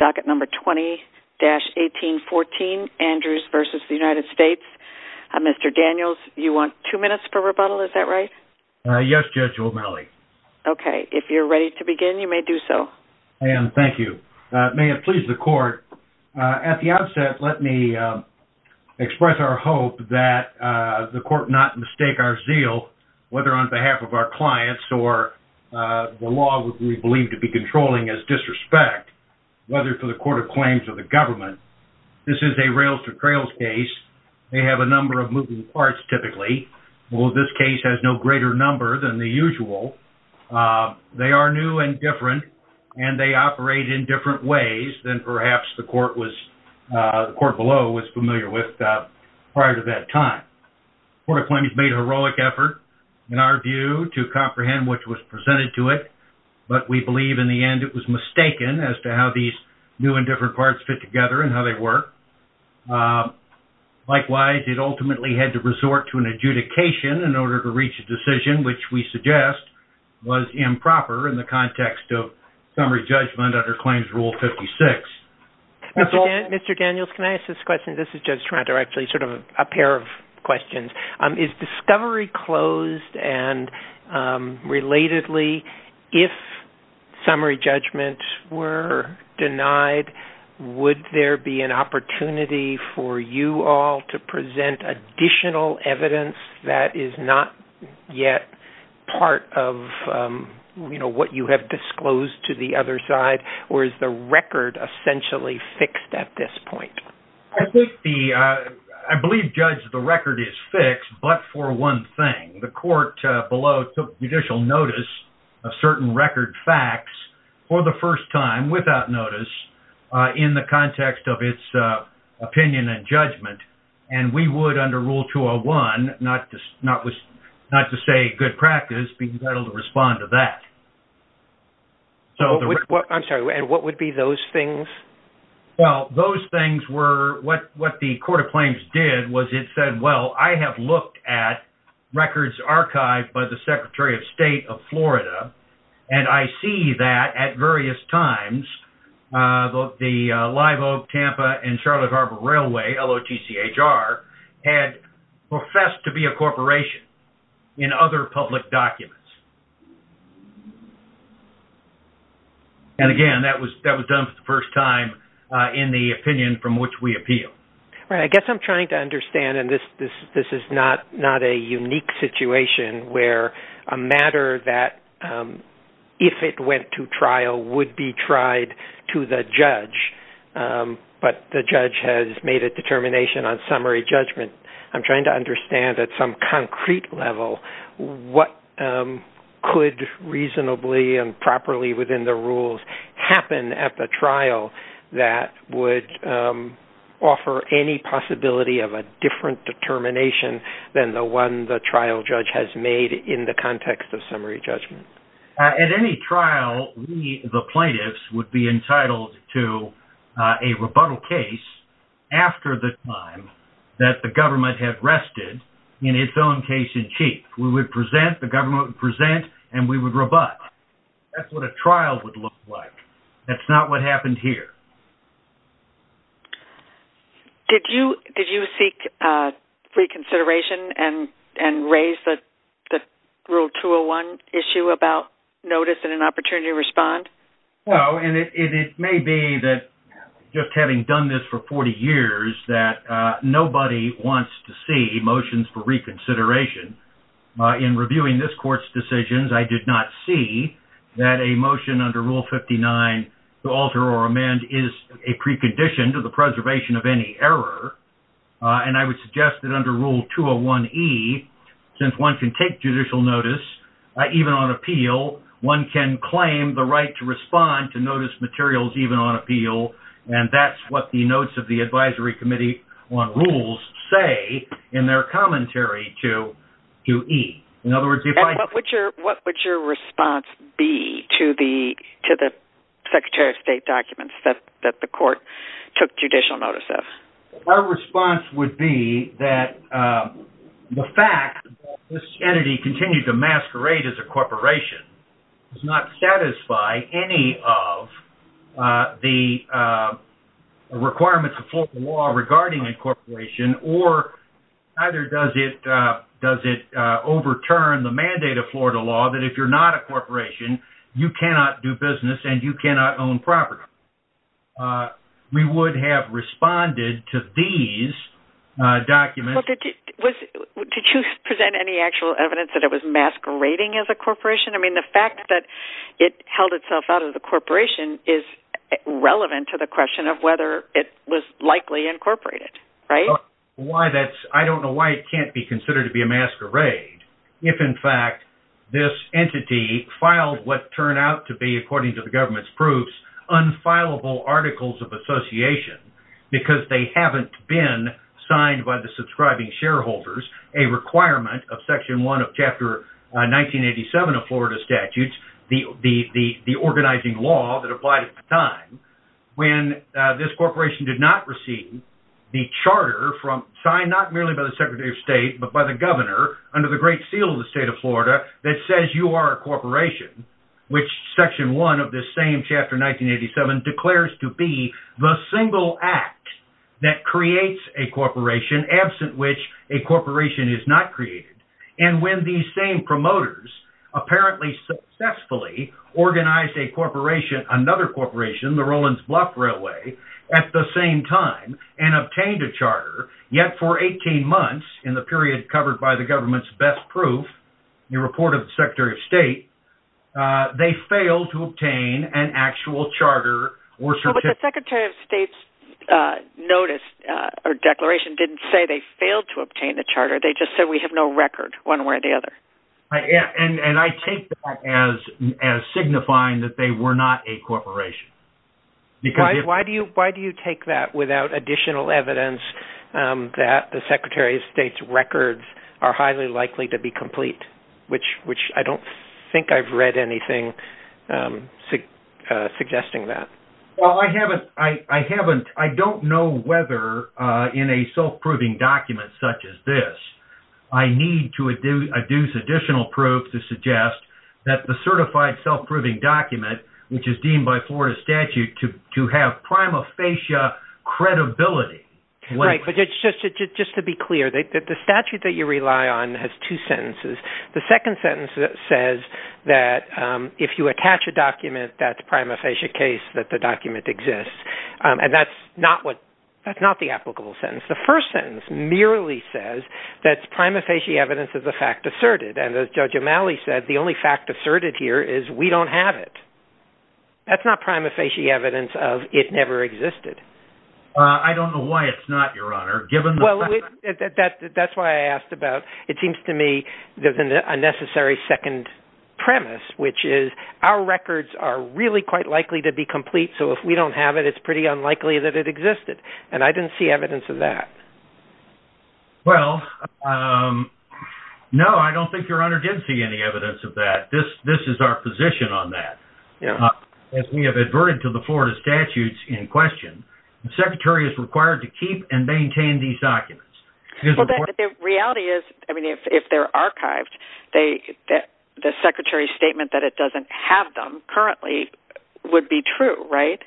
docket number 20-1814, Andrews v. United States. Mr. Daniels, you want two minutes for rebuttal, is that right? Yes, Judge O'Malley. Okay, if you're ready to begin, you may do so. I am, thank you. May it please the court, at the outset, let me express our hope that the court not mistake our zeal, whether on behalf of our clients or the law we believe to be controlling as disrespect, whether for the Court of Claims or the government. This is a rails-to-trails case. They have a number of moving parts, typically. Well, this case has no greater number than the usual. They are new and different, and they operate in different ways than perhaps the court below was familiar with prior to that time. The Court of Claims made a heroic effort, in our view, to comprehend what was presented to it, but we believe, in the end, it was mistaken as to how these new and different parts fit together and how they work. Likewise, it ultimately had to resort to an adjudication in order to reach a decision, which we suggest was improper in the context of summary judgment under Claims Rule 56. Mr. Daniels, can I ask this question? This is Judge Toronto, actually, a pair of questions. Is discovery closed and, relatedly, if summary judgments were denied, would there be an opportunity for you all to present additional evidence that is not yet part of what you have disclosed to the other side, or is the record essentially fixed at this point? I believe, Judge, the record is fixed, but for one thing. The court below took judicial notice of certain record facts for the first time, without notice, in the context of its opinion and judgment, and we would, under Rule 201, not to say good practice, be entitled to respond to that. I'm sorry, and what would be those things? Well, those things were what the Court of Claims did was it said, well, I have looked at records archived by the Secretary of State of Florida, and I see that, at various times, the Live Oak, Tampa, and Charlotte Harbor Railway, L-O-T-C-H-R, had professed to be a corporation in other public documents. And, again, that was done for the first time in the opinion from which we appeal. Right. I guess I'm trying to understand, and this is not a unique situation where a matter that, if it went to trial, would be tried to the judge, but the judge has made a determination on summary level, what could reasonably and properly within the rules happen at the trial that would offer any possibility of a different determination than the one the trial judge has made in the context of summary judgment? At any trial, the plaintiffs would be entitled to a rebuttal case after the time that the government had rested in its own case in chief. We would present, the government would present, and we would rebut. That's what a trial would look like. That's not what happened here. Did you seek reconsideration and raise the Rule 201 issue about notice and an opportunity to respond? No. And it may be that, just having done this for 40 years, that nobody wants to see motions for reconsideration. In reviewing this court's decisions, I did not see that a motion under Rule 59 to alter or amend is a precondition to the preservation of any error. And I would the right to respond to notice materials even on appeal, and that's what the notes of the Advisory Committee on Rules say in their commentary to E. And what would your response be to the Secretary of State documents that the court took judicial notice of? Our response would be that the fact that this entity continued to masquerade as a corporation does not satisfy any of the requirements of Florida law regarding incorporation, or either does it overturn the mandate of Florida law that if you're not a corporation, you cannot do business and you can't do business. Did you present any actual evidence that it was masquerading as a corporation? I mean, the fact that it held itself out of the corporation is relevant to the question of whether it was likely incorporated, right? I don't know why it can't be considered to be a masquerade if, in fact, this entity filed what turned out to be, according to the government's proofs, unfileable articles of association because they haven't been signed by the subscribing shareholders, a requirement of Section 1 of Chapter 1987 of Florida statutes, the organizing law that applied at the time, when this corporation did not receive the charter signed not merely by the Secretary of State but by the governor under the great seal of the state of Florida that says you are a corporation, Section 1 of Chapter 1987 declares to be the single act that creates a corporation, absent which a corporation is not created, and when these same promoters apparently successfully organized a corporation, another corporation, the Rollins-Block Railway, at the same time and obtained a charter, yet for 18 months in the period covered by the government's best proof, the report of the Secretary of State, they failed to obtain an actual charter signed by the governor. But the Secretary of State's notice or declaration didn't say they failed to obtain the charter, they just said we have no record one way or the other. And I take that as signifying that they were not a corporation. Why do you take that without additional evidence that the Secretary of State's records are highly likely to be complete, which I don't think I've read anything suggesting that. Well, I haven't, I haven't, I don't know whether in a self-proving document such as this, I need to adduce additional proof to suggest that the certified self-proving document, which is deemed by Florida statute to have prima facie credibility. Right, but just to be clear, the statute that you rely on has two sentences. The second sentence says that if you attach a document, that's prima facie case that the document exists. And that's not what, that's not the applicable sentence. The first sentence merely says that's prima facie evidence of the fact asserted. And as Judge O'Malley said, the only fact asserted here is we don't have it. That's not prima facie evidence of it never existed. I don't know why it's not, Your Honor, given that. That's why I asked about, it seems to me there's an unnecessary second premise, which is our records are really quite likely to be complete. So if we don't have it, it's pretty unlikely that it existed. And I didn't see evidence of that. Well, no, I don't think Your Honor did see any evidence of that. This, this is our position on that. As we have adverted to the Florida statutes in question, the secretary is required to keep and maintain these documents. The reality is, I mean, if they're archived, they, the secretary's statement that it doesn't have them currently would be true, right?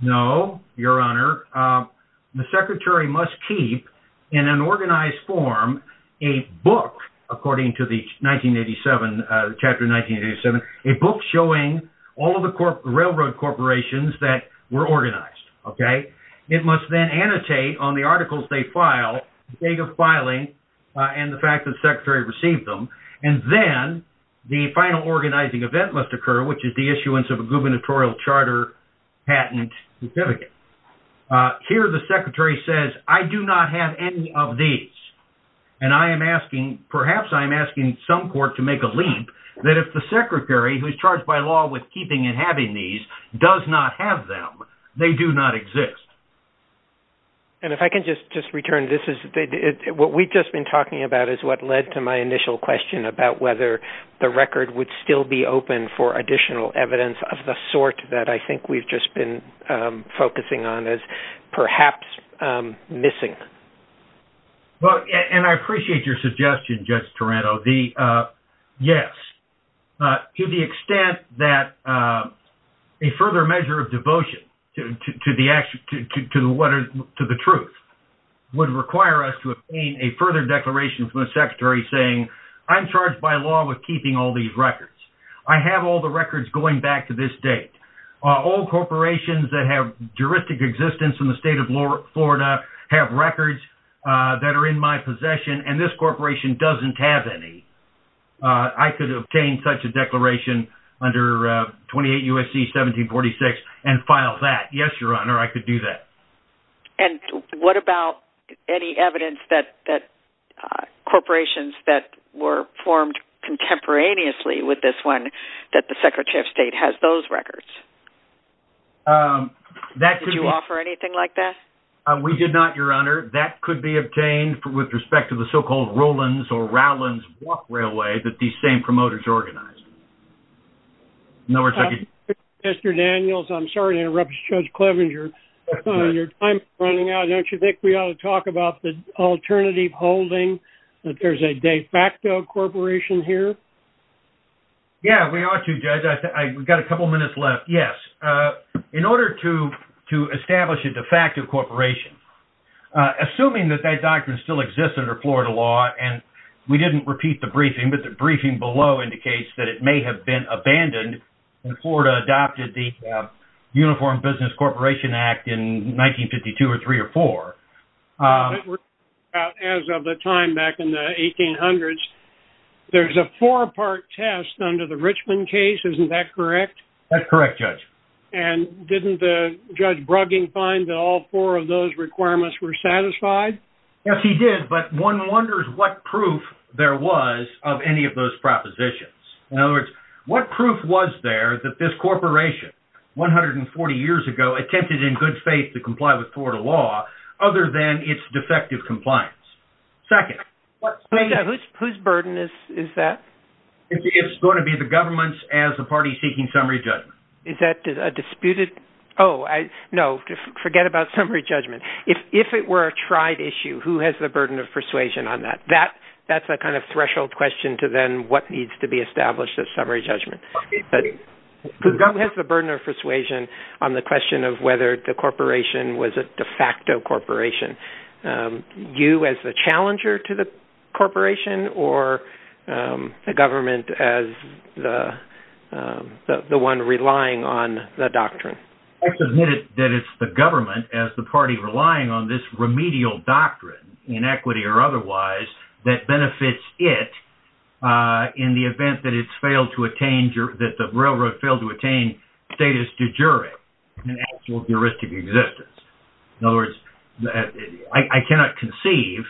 No, Your Honor. The secretary must keep in an organized form a book, according to the 1987, Chapter 1987, a book showing all of the railroad corporations that were organized. Okay. It must then annotate on the articles they file, the date of filing and the fact that the secretary received them. And then the final organizing event must occur, which is the issuance of a gubernatorial charter patent certificate. Here the secretary says, I do not have any of these. And I am asking, perhaps I'm asking some court to make a leap that if the secretary who's charged by law with keeping and having these does not have them, they do not exist. And if I can just, just return, this is what we've just been talking about is what led to my initial question about whether the record would still be open for additional evidence of the sort that I think we've just been focusing on as perhaps missing. Well, and I appreciate your suggestion, Judge Taranto. The, yes, to the extent that a further measure of devotion to the truth would require us to obtain a further declaration from the secretary saying, I'm charged by law with keeping all these records. I have all the records going back to this date. All corporations that have juristic existence in the state of Florida have records that are in my possession, and this corporation doesn't have any. I could obtain such a declaration under 28 U.S.C. 1746 and file that. Yes, Your Honor, I could do that. And what about any evidence that corporations that were formed contemporaneously with this one, that the secretary of state has those records? Did you offer anything like that? We did not, Your Honor. That could be obtained with respect to the so-called Rowlands or Rowlands Walk Railway that these same promoters organized. Mr. Daniels, I'm sorry to interrupt Judge Clevenger. Your time is running out. Don't you think we ought to talk about the alternative holding, that there's a de facto corporation here? Yeah, we ought to, Judge. I, we've got a In order to establish a de facto corporation, assuming that that doctrine still exists under Florida law, and we didn't repeat the briefing, but the briefing below indicates that it may have been abandoned when Florida adopted the Uniform Business Corporation Act in 1952 or three or four. As of the time back in the 1800s, there's a four-part test under the Richmond case. Isn't that correct? That's correct, Judge. And didn't the Judge Brugging find that all four of those requirements were satisfied? Yes, he did. But one wonders what proof there was of any of those propositions. In other words, what proof was there that this corporation 140 years ago attempted in good faith to comply with Florida law, other than its defective compliance? Second, whose burden is that? It's going to be the government's as the party seeking summary judgment. Is that a disputed? Oh, no, forget about summary judgment. If it were a tried issue, who has the burden of persuasion on that? That's a kind of threshold question to then what needs to be established as summary judgment. Who has the burden of persuasion on the question of whether the corporation was a de facto corporation? You as the challenger to the government as the one relying on the doctrine. I submit that it's the government as the party relying on this remedial doctrine, in equity or otherwise, that benefits it in the event that the railroad failed to attain status de jure in actual juristic existence. In other words, I cannot conceive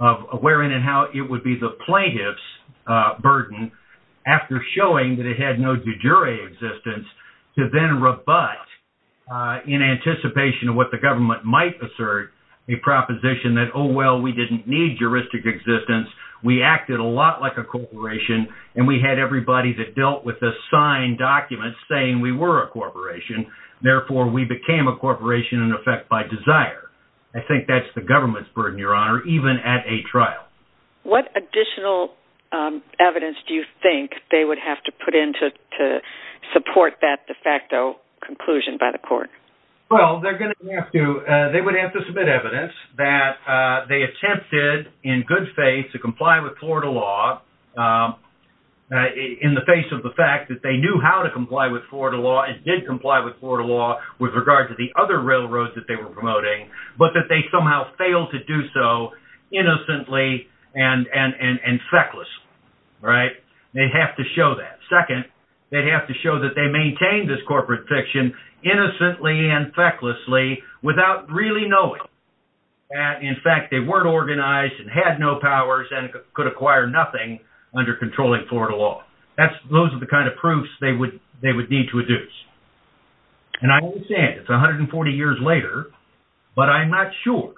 of where and how it would be the plaintiff's burden after showing that it had no de jure existence to then rebut in anticipation of what the government might assert a proposition that, oh, well, we didn't need juristic existence. We acted a lot like a corporation, and we had everybody that dealt with the signed documents saying we were a corporation. Therefore, we became a corporation in effect by desire. I think that's the government's burden, Your Honor, even at a trial. What additional evidence do you think they would have to put in to support that de facto conclusion by the court? Well, they're going to have to. They would have to submit evidence that they attempted in good faith to comply with Florida law in the face of the fact that they knew how to comply with Florida law and did comply with Florida law with regard to the other railroads that they were promoting, but that they somehow failed to do so innocently and fecklessly, right? They'd have to show that. Second, they'd have to show that they maintained this corporate fiction innocently and fecklessly without really knowing that, in fact, they weren't organized and had no powers and could acquire nothing under controlling Florida law. Those are the kind of they would need to adduce. And I understand it's 140 years later, but I'm not sure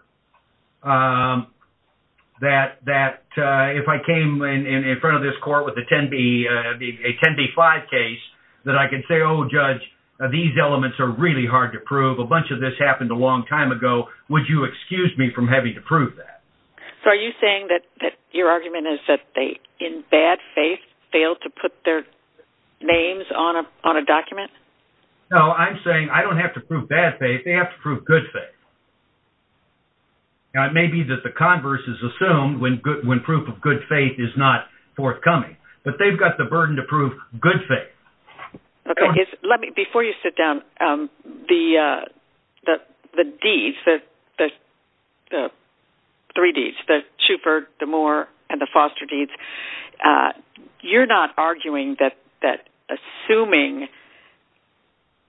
that if I came in front of this court with a 10b5 case that I could say, oh, judge, these elements are really hard to prove. A bunch of this happened a long time ago. Would you excuse me from having to prove that? So are you saying that your argument is that they, in bad faith, failed to put their names on a document? No, I'm saying I don't have to prove bad faith. They have to prove good faith. Now, it may be that the converse is assumed when proof of good faith is not forthcoming, but they've got the burden to prove good faith. Okay. Before you sit down, the deeds, the three deeds, the Shufer, the Moore, and the Foster deeds, you're not arguing that assuming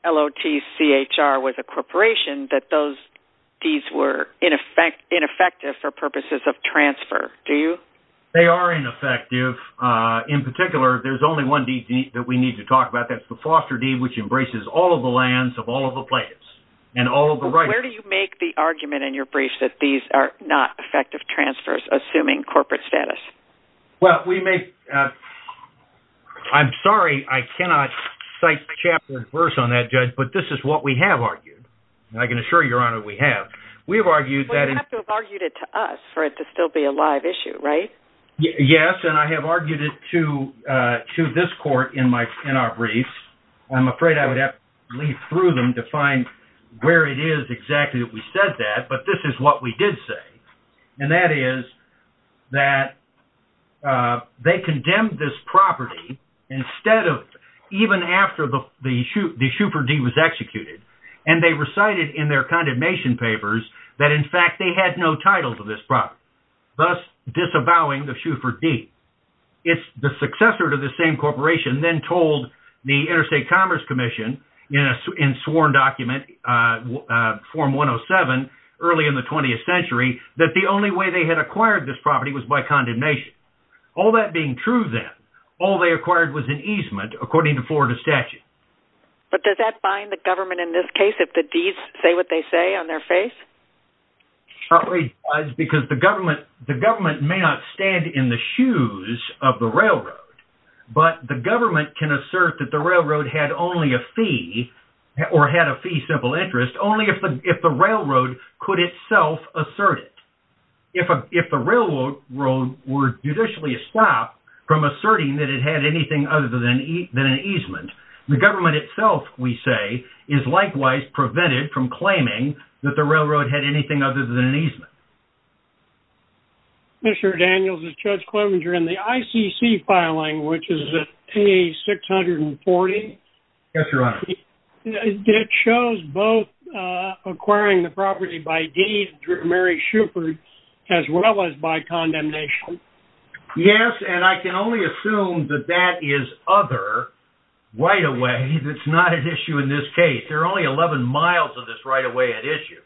LOTCHR was a corporation that those deeds were ineffective for purposes of transfer, do you? They are ineffective. In particular, there's only one deed that we need to talk about. That's the Foster deed, which embraces all of the lands of all of the players and all of the rights. But where do you make the argument in your briefs that these are not effective transfers, assuming corporate status? I'm sorry, I cannot cite chapter and verse on that, judge, but this is what we have argued. I can assure you, Your Honor, we have. We have argued that... Yes, and I have argued it to this court in our briefs. I'm afraid I would have to leaf through them to find where it is exactly that we said that, but this is what we did say, and that is that they condemned this property, even after the Shufer deed was executed, and they recited in their condemnation papers that, in fact, they had no title to this property, thus disavowing the Shufer deed. The successor to the same corporation then told the Interstate Commerce Commission in a sworn document, Form 107, early in the 20th century, that the only way they had acquired this property was by condemnation. All that being true then, all they acquired was an easement, according to Florida statute. But does that bind the government in this case, if the deeds say what they say on their face? It probably does, because the government may not stand in the shoes of the railroad, but the government can assert that the railroad had only a fee, or had a fee simple interest, only if the railroad could itself assert it. If the railroad were judicially stopped from asserting that it had anything other than an easement, the government itself, we say, is likewise prevented from claiming that the railroad had anything other than an easement. Mr. Daniels, it's Judge Klobinger. In the ICC filing, which is at page 640, it shows both acquiring the property by deed through Mary Shufer, as well as by condemnation. Yes, and I can only assume that that is other right-of-way that's not at issue in this case. There are only 11 miles of this right-of-way at issue.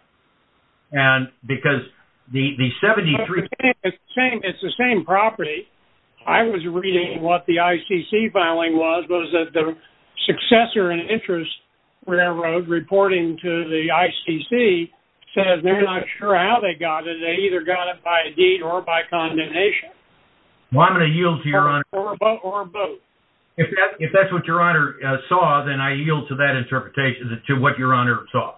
And because the 73- It's the same property. I was reading what the ICC filing was, was that the successor and interest railroad reporting to the ICC says they're not sure how they got it. They either got it by a deed or by condemnation. Well, I'm going to yield to your honor- Or both. If that's what your honor saw, then I yield to that interpretation, to what your honor saw.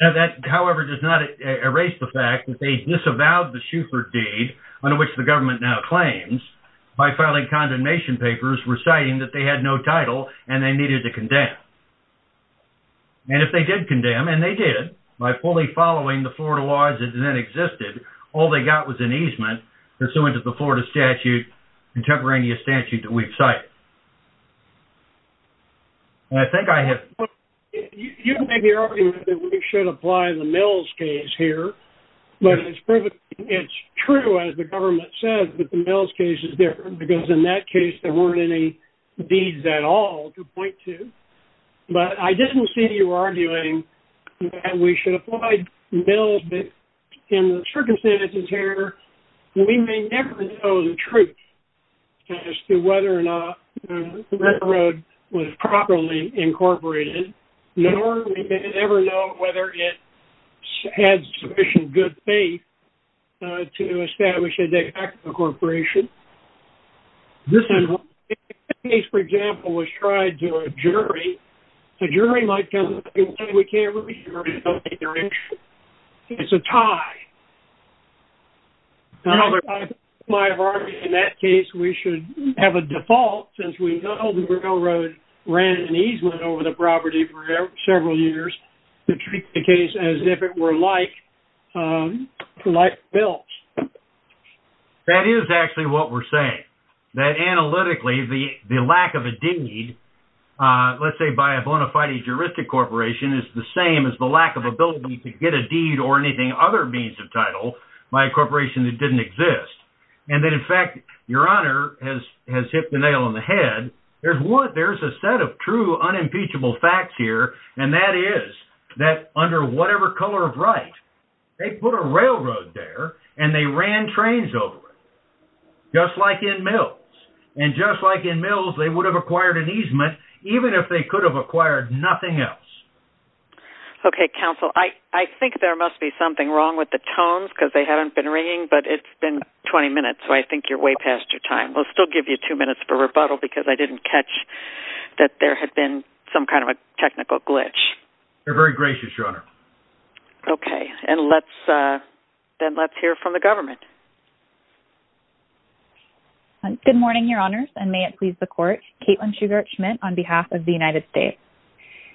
That, however, does not erase the fact that they disavowed the Shufer deed, under which the government now claims, by filing condemnation papers reciting that they had no And if they did condemn, and they did, by fully following the Florida laws that then existed, all they got was an easement pursuant to the Florida statute, contemporaneous statute, that we've cited. And I think I have- You made the argument that we should apply the Mills case here. But it's true, as the government says, that the Mills case is different, because in that case there weren't any deeds at all to point to. But I didn't see you arguing that we should apply Mills, but in the circumstances here, we may never know the truth as to whether or not the railroad was properly incorporated, nor we may ever know whether it had sufficient good faith to establish a de facto corporation. And if the case, for example, was tried to a jury, the jury might come back and say, we can't really hear it in that direction. It's a tie. However, I think my argument in that case, we should have a default, since we know the railroad ran an easement over the property for several years, to treat the case as if it were like Bill's. That is actually what we're saying. That analytically, the lack of a deed, let's say by a bona fide juristic corporation, is the same as the lack of ability to get a deed or anything other means of title by a corporation that didn't exist. And that in fact, Your Honor has hit the nail on the head. There's a set of true unimpeachable facts here, and that is that under whatever color of right, they put a railroad there, and they ran trains over it, just like in Mills. And just like in Mills, they would have acquired an easement, even if they could have acquired nothing else. Okay, counsel, I think there must be something wrong with the tones, because they haven't been ringing, but it's been 20 minutes. So I think you're way past your time. We'll still give you two minutes for rebuttal, because I didn't catch that there had been some kind of a technical glitch. You're very gracious, Your Honor. Okay, and then let's hear from the government. Good morning, Your Honors, and may it please the court, Caitlin Shugart-Schmidt on behalf of the United States.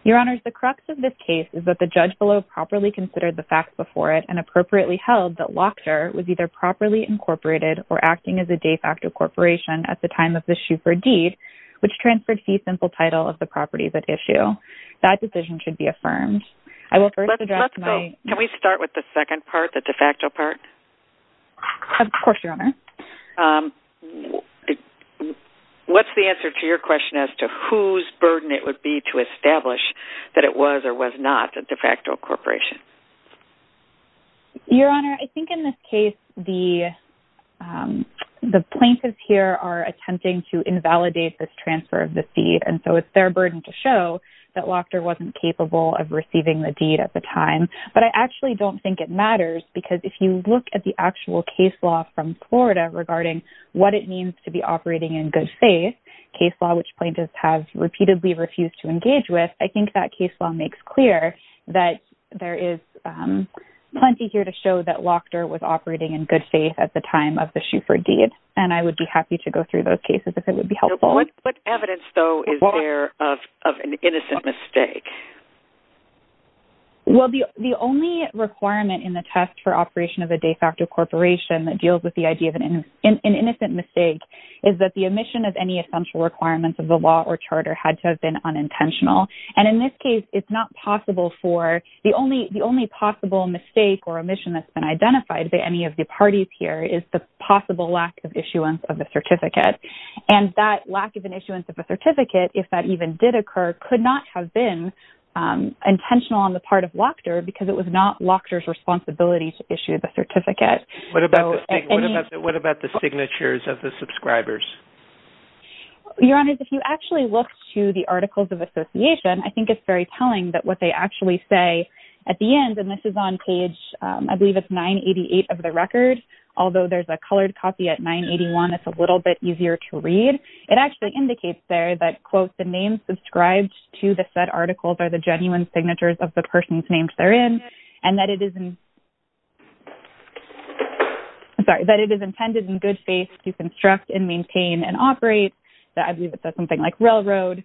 Your Honors, the crux of this case is that the judge below properly considered the facts before it and appropriately held that Wachter was either properly incorporated or acting as a de facto corporation at the time of the Schubert deed, which transferred fee simple title of the properties at issue. That decision should be affirmed. Let's go. Can we start with the second part, the de facto part? Of course, Your Honor. What's the answer to your question as to whose burden it would be to establish that it was or was not a de facto corporation? Your Honor, I think in this case, the plaintiffs here are attempting to invalidate this transfer of the fee, and so it's their burden to show that Wachter wasn't capable of receiving the deed at the time. But I actually don't think it matters because if you look at the actual case law from Florida regarding what it means to be operating in good faith, case law, which plaintiffs have repeatedly refused to engage with, I think that case law makes clear that there is plenty here to show that Wachter was operating in good faith at the time of the Schubert deed. And I would be happy to go through those cases if it would be helpful. What evidence, though, is there of an innocent mistake? Well, the only requirement in the test for operation of a de facto corporation that deals with the idea of an innocent mistake is that the omission of any essential requirements of the law or charter had to have been unintentional. And in this case, it's not possible for the only possible mistake or omission that's been identified by any of the parties here is the possible lack of issuance of the certificate. And that lack of an issuance of a certificate, if that even did occur, could not have been intentional on the part of Wachter because it was not Wachter's responsibility to issue the certificate. What about the signatures of the subscribers? Your Honor, if you actually look to the Articles of Association, I think it's very telling that what they actually say at the end, and this is on page, I believe it's 988 of the record, although there's a colored copy at 981, it's a little bit easier to read. It actually indicates there that, quote, the names subscribed to the said articles are the genuine signatures of the person's names therein, and that it is intended in good faith to construct and maintain and operate, that I believe it says something like railroad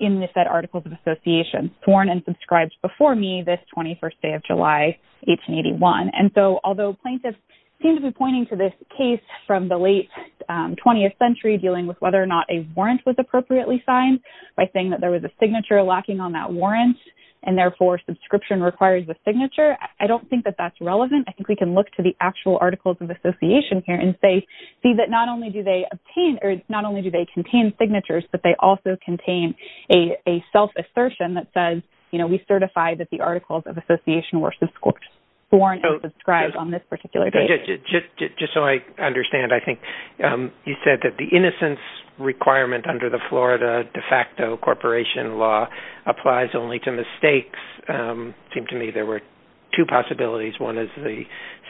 in the said Articles of Association, sworn and subscribed before me this 21st day of July, 1881. And so although plaintiffs seem to be pointing to this case from the late 20th century, dealing with whether or not a warrant was appropriately signed by saying that there was a signature lacking on that warrant, and therefore subscription requires a signature, I don't think that that's relevant. I think we can look to the actual Articles of Association here and say, see that not only do they obtain, or not only do they contain signatures, but they also contain a self-assertion that says, you know, we certify that the Articles of Association were sworn and subscribed on this particular date. Just so I understand, I think you said that the innocence requirement under the Florida de facto corporation law applies only to mistakes. Seemed to me there were two possibilities. One is the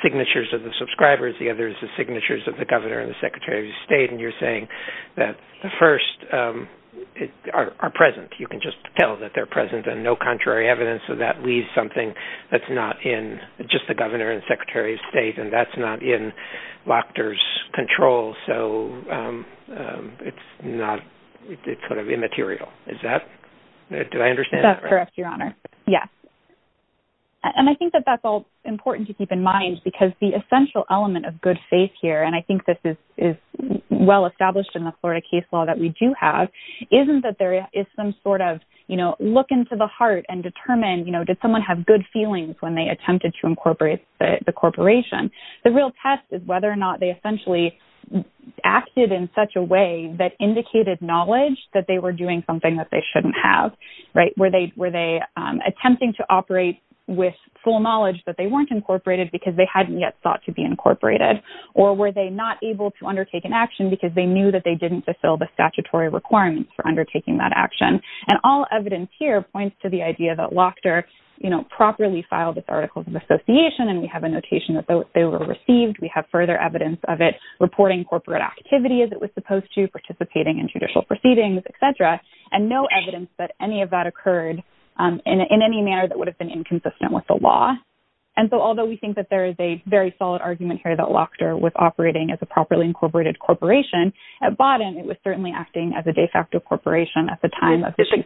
signatures of the subscribers. The other is the signatures of the governor and the secretary of state. And you're saying that the first are present. You can just tell that they're present and no contrary evidence. So that leaves something that's not in just the governor and secretary of state, and that's not in Lochter's control. So it's not, it's sort of immaterial. Is that, do I understand? That's correct, Your Honor. Yes. And I think that that's all important to keep in mind because the essential element of good faith here, and I think this is well established in the Florida case law that we do have, isn't that there is some sort of, you know, look into the heart and determine, you know, did someone have good feelings when they attempted to incorporate the corporation? The real test is whether or not they essentially acted in such a way that indicated knowledge that they were doing something that they shouldn't have, right? Were they attempting to operate with full knowledge that they weren't incorporated because they hadn't yet thought to be incorporated? Or were they not able to undertake an action because they knew that they didn't fulfill the statutory requirements for undertaking that action? And all evidence here points to the idea that Lochter, you know, properly filed its articles of association, and we have a notation that they were received. We have further evidence of it reporting corporate activity as it was supposed to, participating in judicial proceedings, et cetera, and no evidence that any of that occurred in any manner that would have been inconsistent with the law. And so although we think that there is a very solid argument here that Lochter was operating as a properly incorporated corporation, at bottom, it was certainly acting as a de facto corporation at the time of the... Did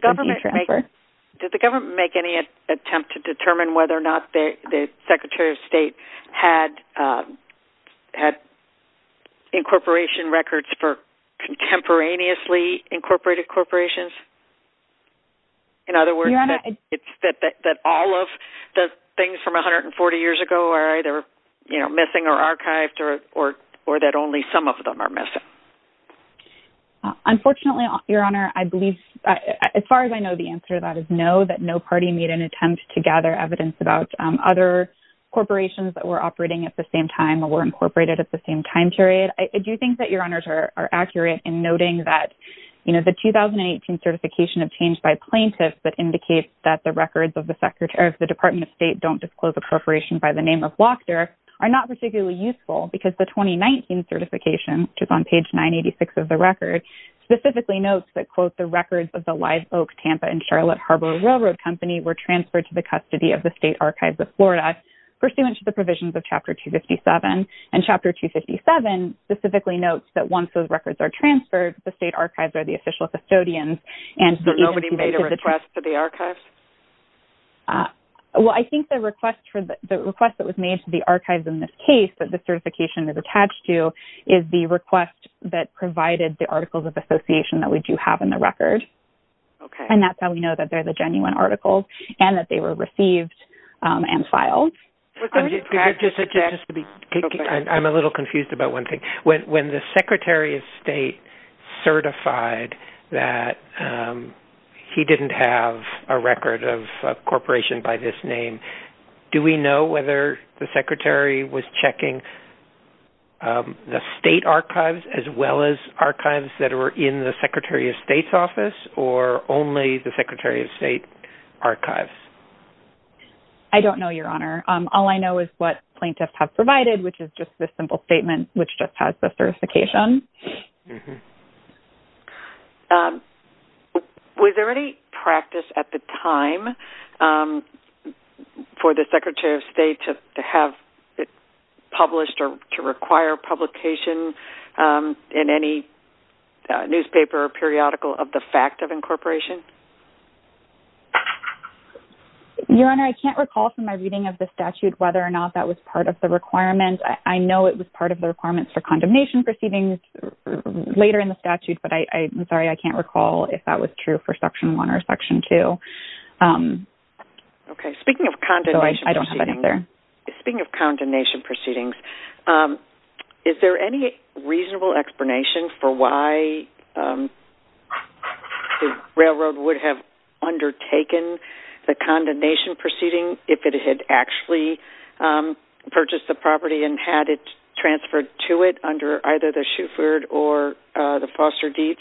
the government make any attempt to determine whether or not the Secretary of State had incorporation records for contemporaneously incorporated corporations? In other words, it's that all of the things from 140 years ago are either, you know, missing or archived or that only some of them are missing. Unfortunately, Your Honor, I believe, as far as I know, the answer to that is no, that no party made an attempt to gather evidence about other corporations that were operating at the same time or were incorporated at the same time period. I do think that Your Honors are accurate in noting that, you know, the 2018 certification obtained by plaintiffs that indicates that the records of the Department of State don't disclose incorporation by the name of Lochter are not particularly useful because the 2019 certification, which is on page 986 of the record, specifically notes that, quote, the records of the Live Oak, Tampa, and Charlotte Harbor Railroad Company were transferred to the custody of the State Archives of Florida pursuant to the provisions of Chapter 257. And Chapter 257 specifically notes that once those records are transferred, the State Archives are the official custodians. So nobody made a request to the archives? Well, I think the request for the request that was made to the archives in this case that the certification is attached to is the request that provided the Articles of Association that we do have in the record. Okay. And that's how we know that they're the genuine articles and that they were received and filed. I'm a little confused about one thing. When the Secretary of State certified that he didn't have a record of incorporation by this name, do we know whether the Secretary was checking the State Archives as well as archives that were in the Secretary of State's office or only the Secretary of State archives? I don't know, Your Honor. All I know is what plaintiffs have provided, which is just this simple statement, which just has the certification. Was there any practice at the time for the Secretary of State to have it published or to require publication in any newspaper or periodical of the fact of incorporation? Your Honor, I can't recall from my reading of the statute whether or not that was part of the requirement. I know it was part of the requirements for condemnation proceedings later in the statute, but I'm sorry. I can't recall if that was true for Section 1 or Section 2. Okay. Speaking of condemnation proceedings, is there any reasonable explanation for why the railroad would have undertaken the condemnation proceedings if it had actually purchased the property and had it transferred to it under either the Shuford or the Foster-Deeps?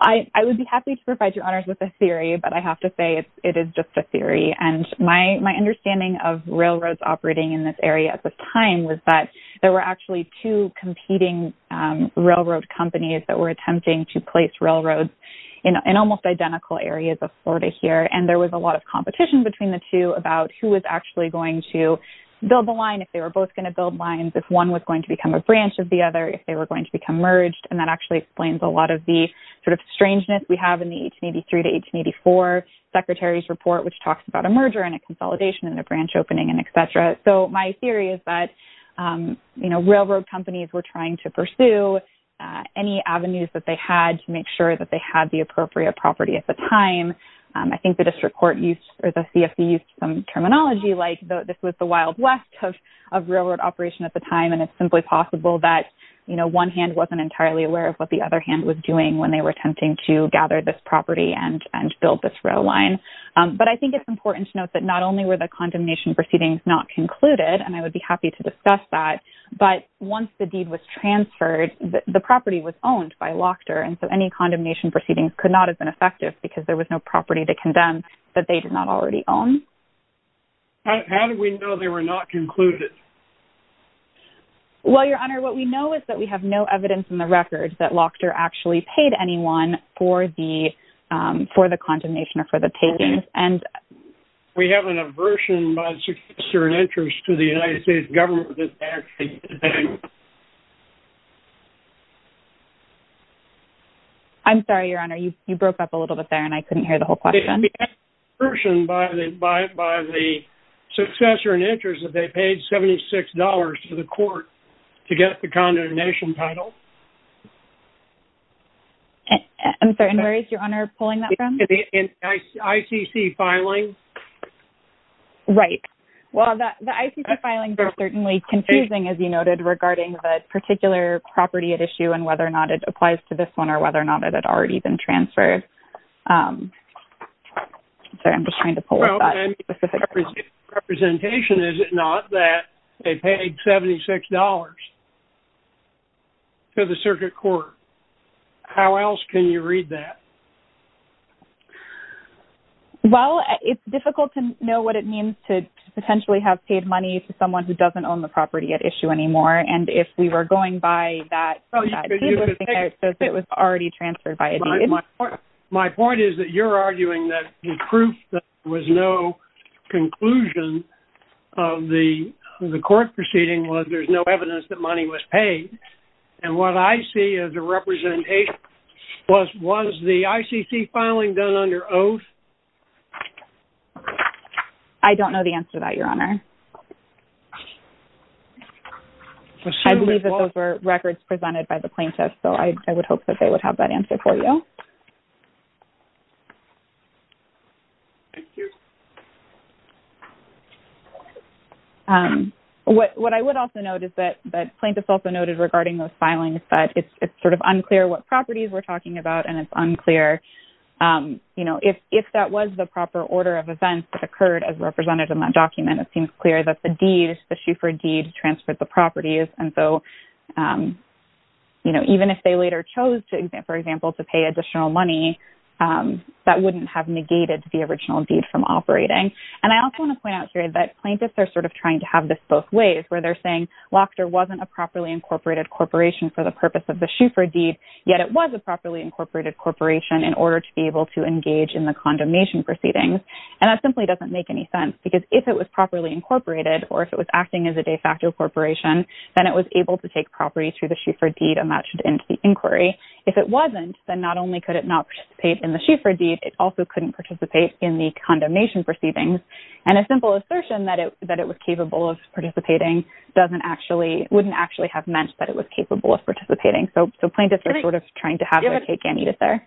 I would be happy to provide, Your Honors, with a theory, but I have to say it is just a theory. And my understanding of railroads operating in this area at the time was that there were actually two competing railroad companies that were attempting to place railroads in almost identical areas of Florida here, and there was a lot of competition between the two about who was actually going to build the line, if they were both going to build lines, if one was going to become a branch of the other, if they were going to become merged. And that actually explains a lot of the sort of strangeness we have in the 1883 to 1884 Secretary's Report, which talks about a merger and a consolidation and a branch opening and et cetera. So my theory is that railroad companies were trying to pursue any avenues that they had to make sure that they had the appropriate property at the time. I think the district court used, or the CFC used some terminology like this was the Wild West of railroad operation at the time, and it's simply possible that one hand wasn't entirely aware of what the other hand was doing when they were attempting to gather this property and build this rail line. But I think it's important to note that not only were the condemnation proceedings not concluded, and I would be happy to discuss that, but once the deed was transferred, the property was owned by Lochter, and so any condemnation proceedings could not have been effective because there was no property to condemn that they did not already own. How do we know they were not concluded? Well, Your Honor, what we know is that we have no evidence in the records that Lochter actually paid anyone for the condemnation or for the takings. And... We have an aversion by a certain interest to the United States government. I'm sorry, Your Honor. You broke up a little bit there, and I couldn't hear the whole question. We have an aversion by the successor in interest that they paid $76 to the court to get the condemnation title. I'm sorry, and where is Your Honor pulling that from? ICC filing. Right. Well, the ICC filings are certainly confusing, as you noted, regarding the particular property at issue and whether or not it applies to this one or whether or not it had already been transferred. Sorry, I'm just trying to pull up that specific one. Representation, is it not, that they paid $76 to the circuit court? How else can you read that? Well, it's difficult to know what it means to potentially have paid money to someone who doesn't own the property at issue anymore. And if we were going by that, it was already transferred by a deed. My point is that you're arguing that the proof that was no conclusion of the court proceeding was there's no evidence that money was paid. And what I see as a representation was, was the ICC filing done under oath? I don't know the answer to that, Your Honor. I believe that those were records presented by the plaintiff, so I would hope that they would have that answer for you. Thank you. What I would also note is that the plaintiff also noted regarding those filings that it's sort of unclear what properties we're talking about and it's unclear, you know, if that was the proper order of events that occurred as represented in that document, it seems clear that the deed, the Schufer deed transferred the properties. And so, you know, even if they later chose to, for example, to pay additional money, that wouldn't have negated the original deed from operating. And I also want to point out here that plaintiffs are sort of trying to have this both ways where they're saying Lochter wasn't a properly incorporated corporation for the purpose of the Schufer deed. Yet it was a properly incorporated corporation in order to be able to engage in the condemnation proceedings. And that simply doesn't make any sense because if it was properly incorporated or if it was acting as a de facto corporation, then it was able to take property through the Schufer deed and that should end the inquiry. If it wasn't, then not only could it not participate in the Schufer deed, it also couldn't participate in the condemnation proceedings. And a simple assertion that it was capable of participating doesn't actually, wouldn't actually have meant that it was capable of participating. So plaintiffs are sort of trying to have their cake and eat it there.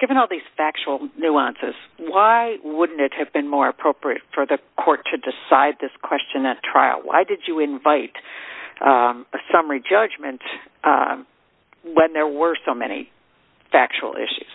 Given all these factual nuances, why wouldn't it have been more appropriate for the court to decide this question at trial? Why did you invite a summary judgment when there were so many factual issues?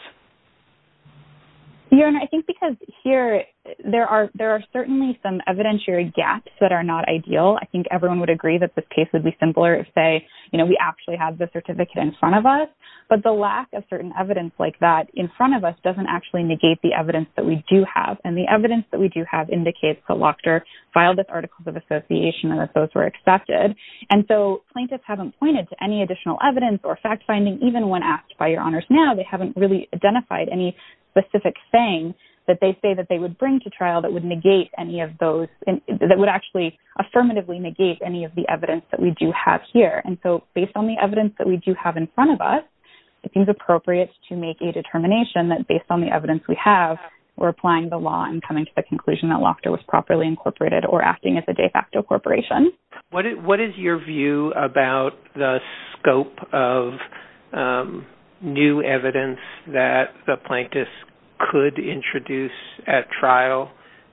Your Honor, I think because here there are certainly some evidentiary gaps that are not ideal. I think everyone would agree that this case would be simpler if, say, you know, we actually had the certificate in front of us. But the lack of certain evidence like that in front of us doesn't actually negate the evidence that we do have. And the evidence that we do have indicates that Lochter filed this article of association and that those were accepted. And so plaintiffs haven't pointed to any additional evidence or fact-finding, even when asked by Your Honors now. They haven't really identified any specific saying that they say that they would bring to trial that would negate any of those, that would actually affirmatively negate any of the evidence that we do have here. And so based on the evidence that we do have in front of us, it seems appropriate to make a determination that based on the evidence we have, we're applying the law and coming to the conclusion that Lochter was properly incorporated or acting as a de facto corporation. What is your view about the scope of new evidence that the plaintiffs could introduce at trial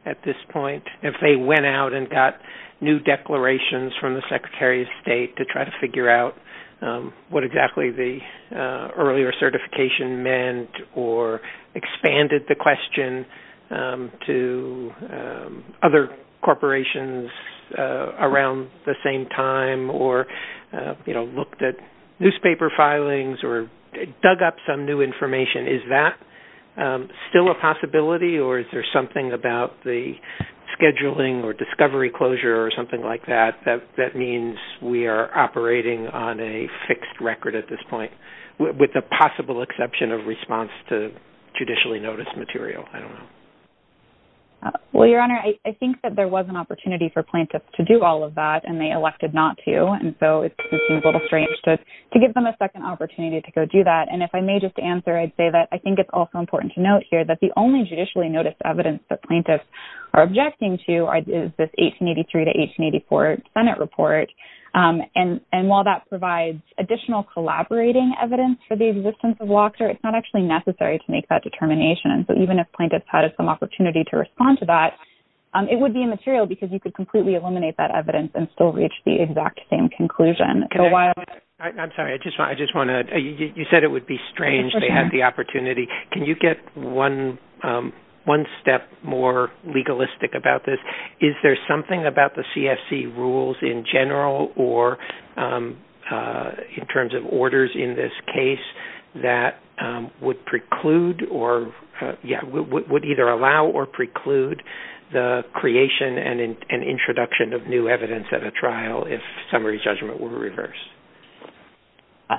at this point? If they went out and got new declarations from the Secretary of State to try to figure out what exactly the earlier certification meant or expanded the question to other corporations around the same time or looked at newspaper filings or dug up some new information, is that still a possibility or is there something about the scheduling or discovery closure or something like that? That means we are operating on a fixed record at this point with the possible exception of response to judicially noticed material, I don't know. Well, Your Honor, I think that there was an opportunity for plaintiffs to do all of that and they elected not to. And so it seems a little strange to give them a second opportunity to go do that. And if I may just answer, I'd say that I think it's also important to note here that the only judicially noticed evidence that plaintiffs are objecting to is this 1883 to 1884 Senate report. And while that provides additional collaborating evidence for the existence of Locker, it's not actually necessary to make that determination. So even if plaintiffs had some opportunity to respond to that, it would be immaterial because you could completely eliminate that evidence and still reach the exact same conclusion. I'm sorry, I just want to, you said it would be strange if they had the opportunity. Can you get one step more legalistic about this? Is there something about the CFC rules in general or in terms of orders in this case that would preclude or would either allow or preclude the creation and introduction of new evidence at a trial if summary judgment were reversed?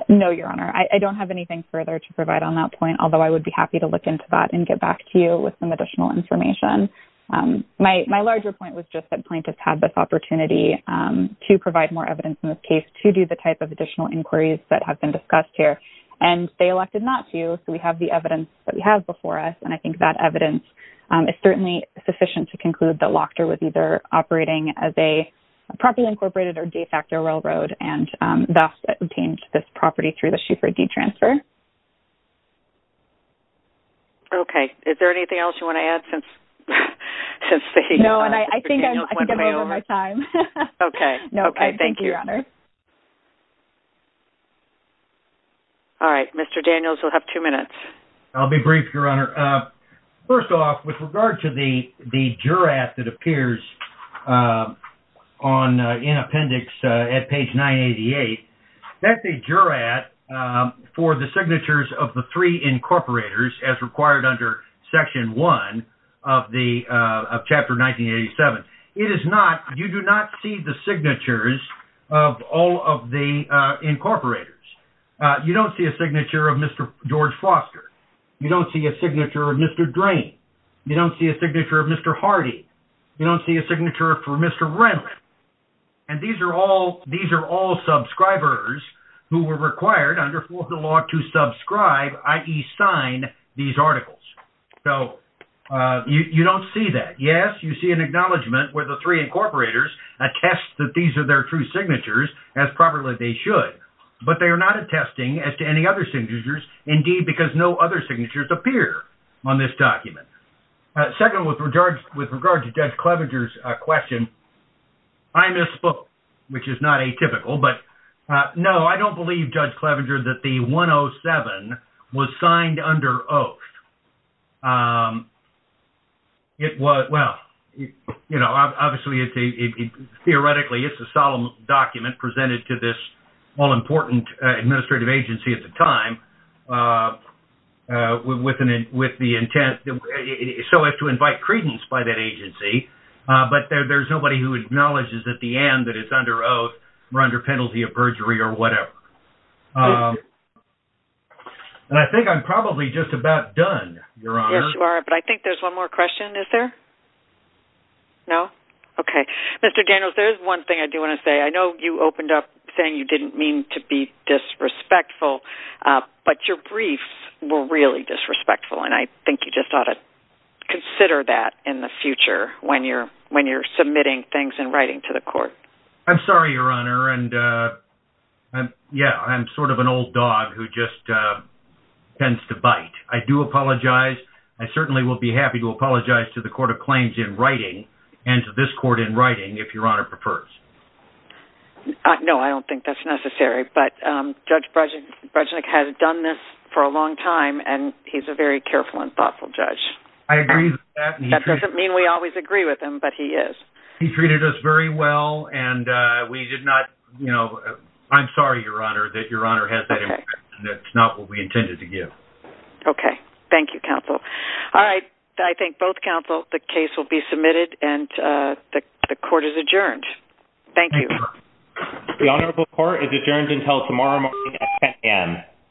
No, Your Honor. I don't have anything further to provide on that point. Although I would be happy to look into that and get back to you with some additional information. My larger point was just that plaintiffs had this opportunity to provide more evidence in this case to do the type of additional inquiries that have been discussed here. And they elected not to. So we have the evidence that we have before us. And I think that evidence is certainly sufficient to conclude that Locker was either operating as a properly incorporated or de facto railroad and thus obtained this property through the Schieffer deed transfer. Okay. Is there anything else you want to add since Mr. Daniels went way over? No, and I think I'm over my time. No, thank you, Your Honor. All right. Mr. Daniels, you'll have two minutes. I'll be brief, Your Honor. First off, with regard to the jurat that appears in appendix at page 988, that's a jurat for the signatures of the three incorporators as required under section one of chapter 1987. You do not see the signatures of all of the incorporators. You don't see a signature of Mr. George Foster. You don't see a signature of Mr. Drain. You don't see a signature of Mr. Hardy. You don't see a signature for Mr. Renwick. And these are all subscribers who were required under Fourth of the Law to subscribe, i.e. sign these articles. So you don't see that. Yes, you see an acknowledgment where the three incorporators attest that these are their true signatures, as probably they should. But they are not attesting as to any other signatures, indeed, because no other signatures appear on this document. Second, with regard to Judge Clevenger's question, I misspoke, which is not atypical. But no, I don't believe, Judge Clevenger, that the 107 was signed under oath. Well, obviously, theoretically, it's a solemn document presented to this all-important administrative agency at the time with the intent so as to invite credence by that agency. But there's nobody who acknowledges at the end that it's under oath or under penalty of perjury or whatever. And I think I'm probably just about done, Your Honor. Yes, you are. But I think there's one more question, is there? No? Okay. Mr. Daniels, there is one thing I do want to say. I know you opened up saying you didn't mean to be disrespectful, but your briefs were really disrespectful. And I think you just ought to consider that in the future when you're submitting things in writing to the court. I'm sorry, Your Honor. And yeah, I'm sort of an old dog who just tends to bite. I do apologize. I certainly will be happy to apologize to the Court of Claims in writing and to this court in writing if Your Honor prefers. No, I don't think that's necessary. But Judge Breznik has done this for a long time, and he's a very careful and thoughtful judge. I agree with that. That doesn't mean we always agree with him, but he is. He treated us very well. And we did not, you know, I'm sorry, Your Honor, that Your Honor has that impression that it's not what we intended to give. Okay. Thank you, counsel. All right. I thank both counsel. The case will be submitted, and the court is adjourned. Thank you. The Honorable Court is adjourned until tomorrow morning at 10 a.m.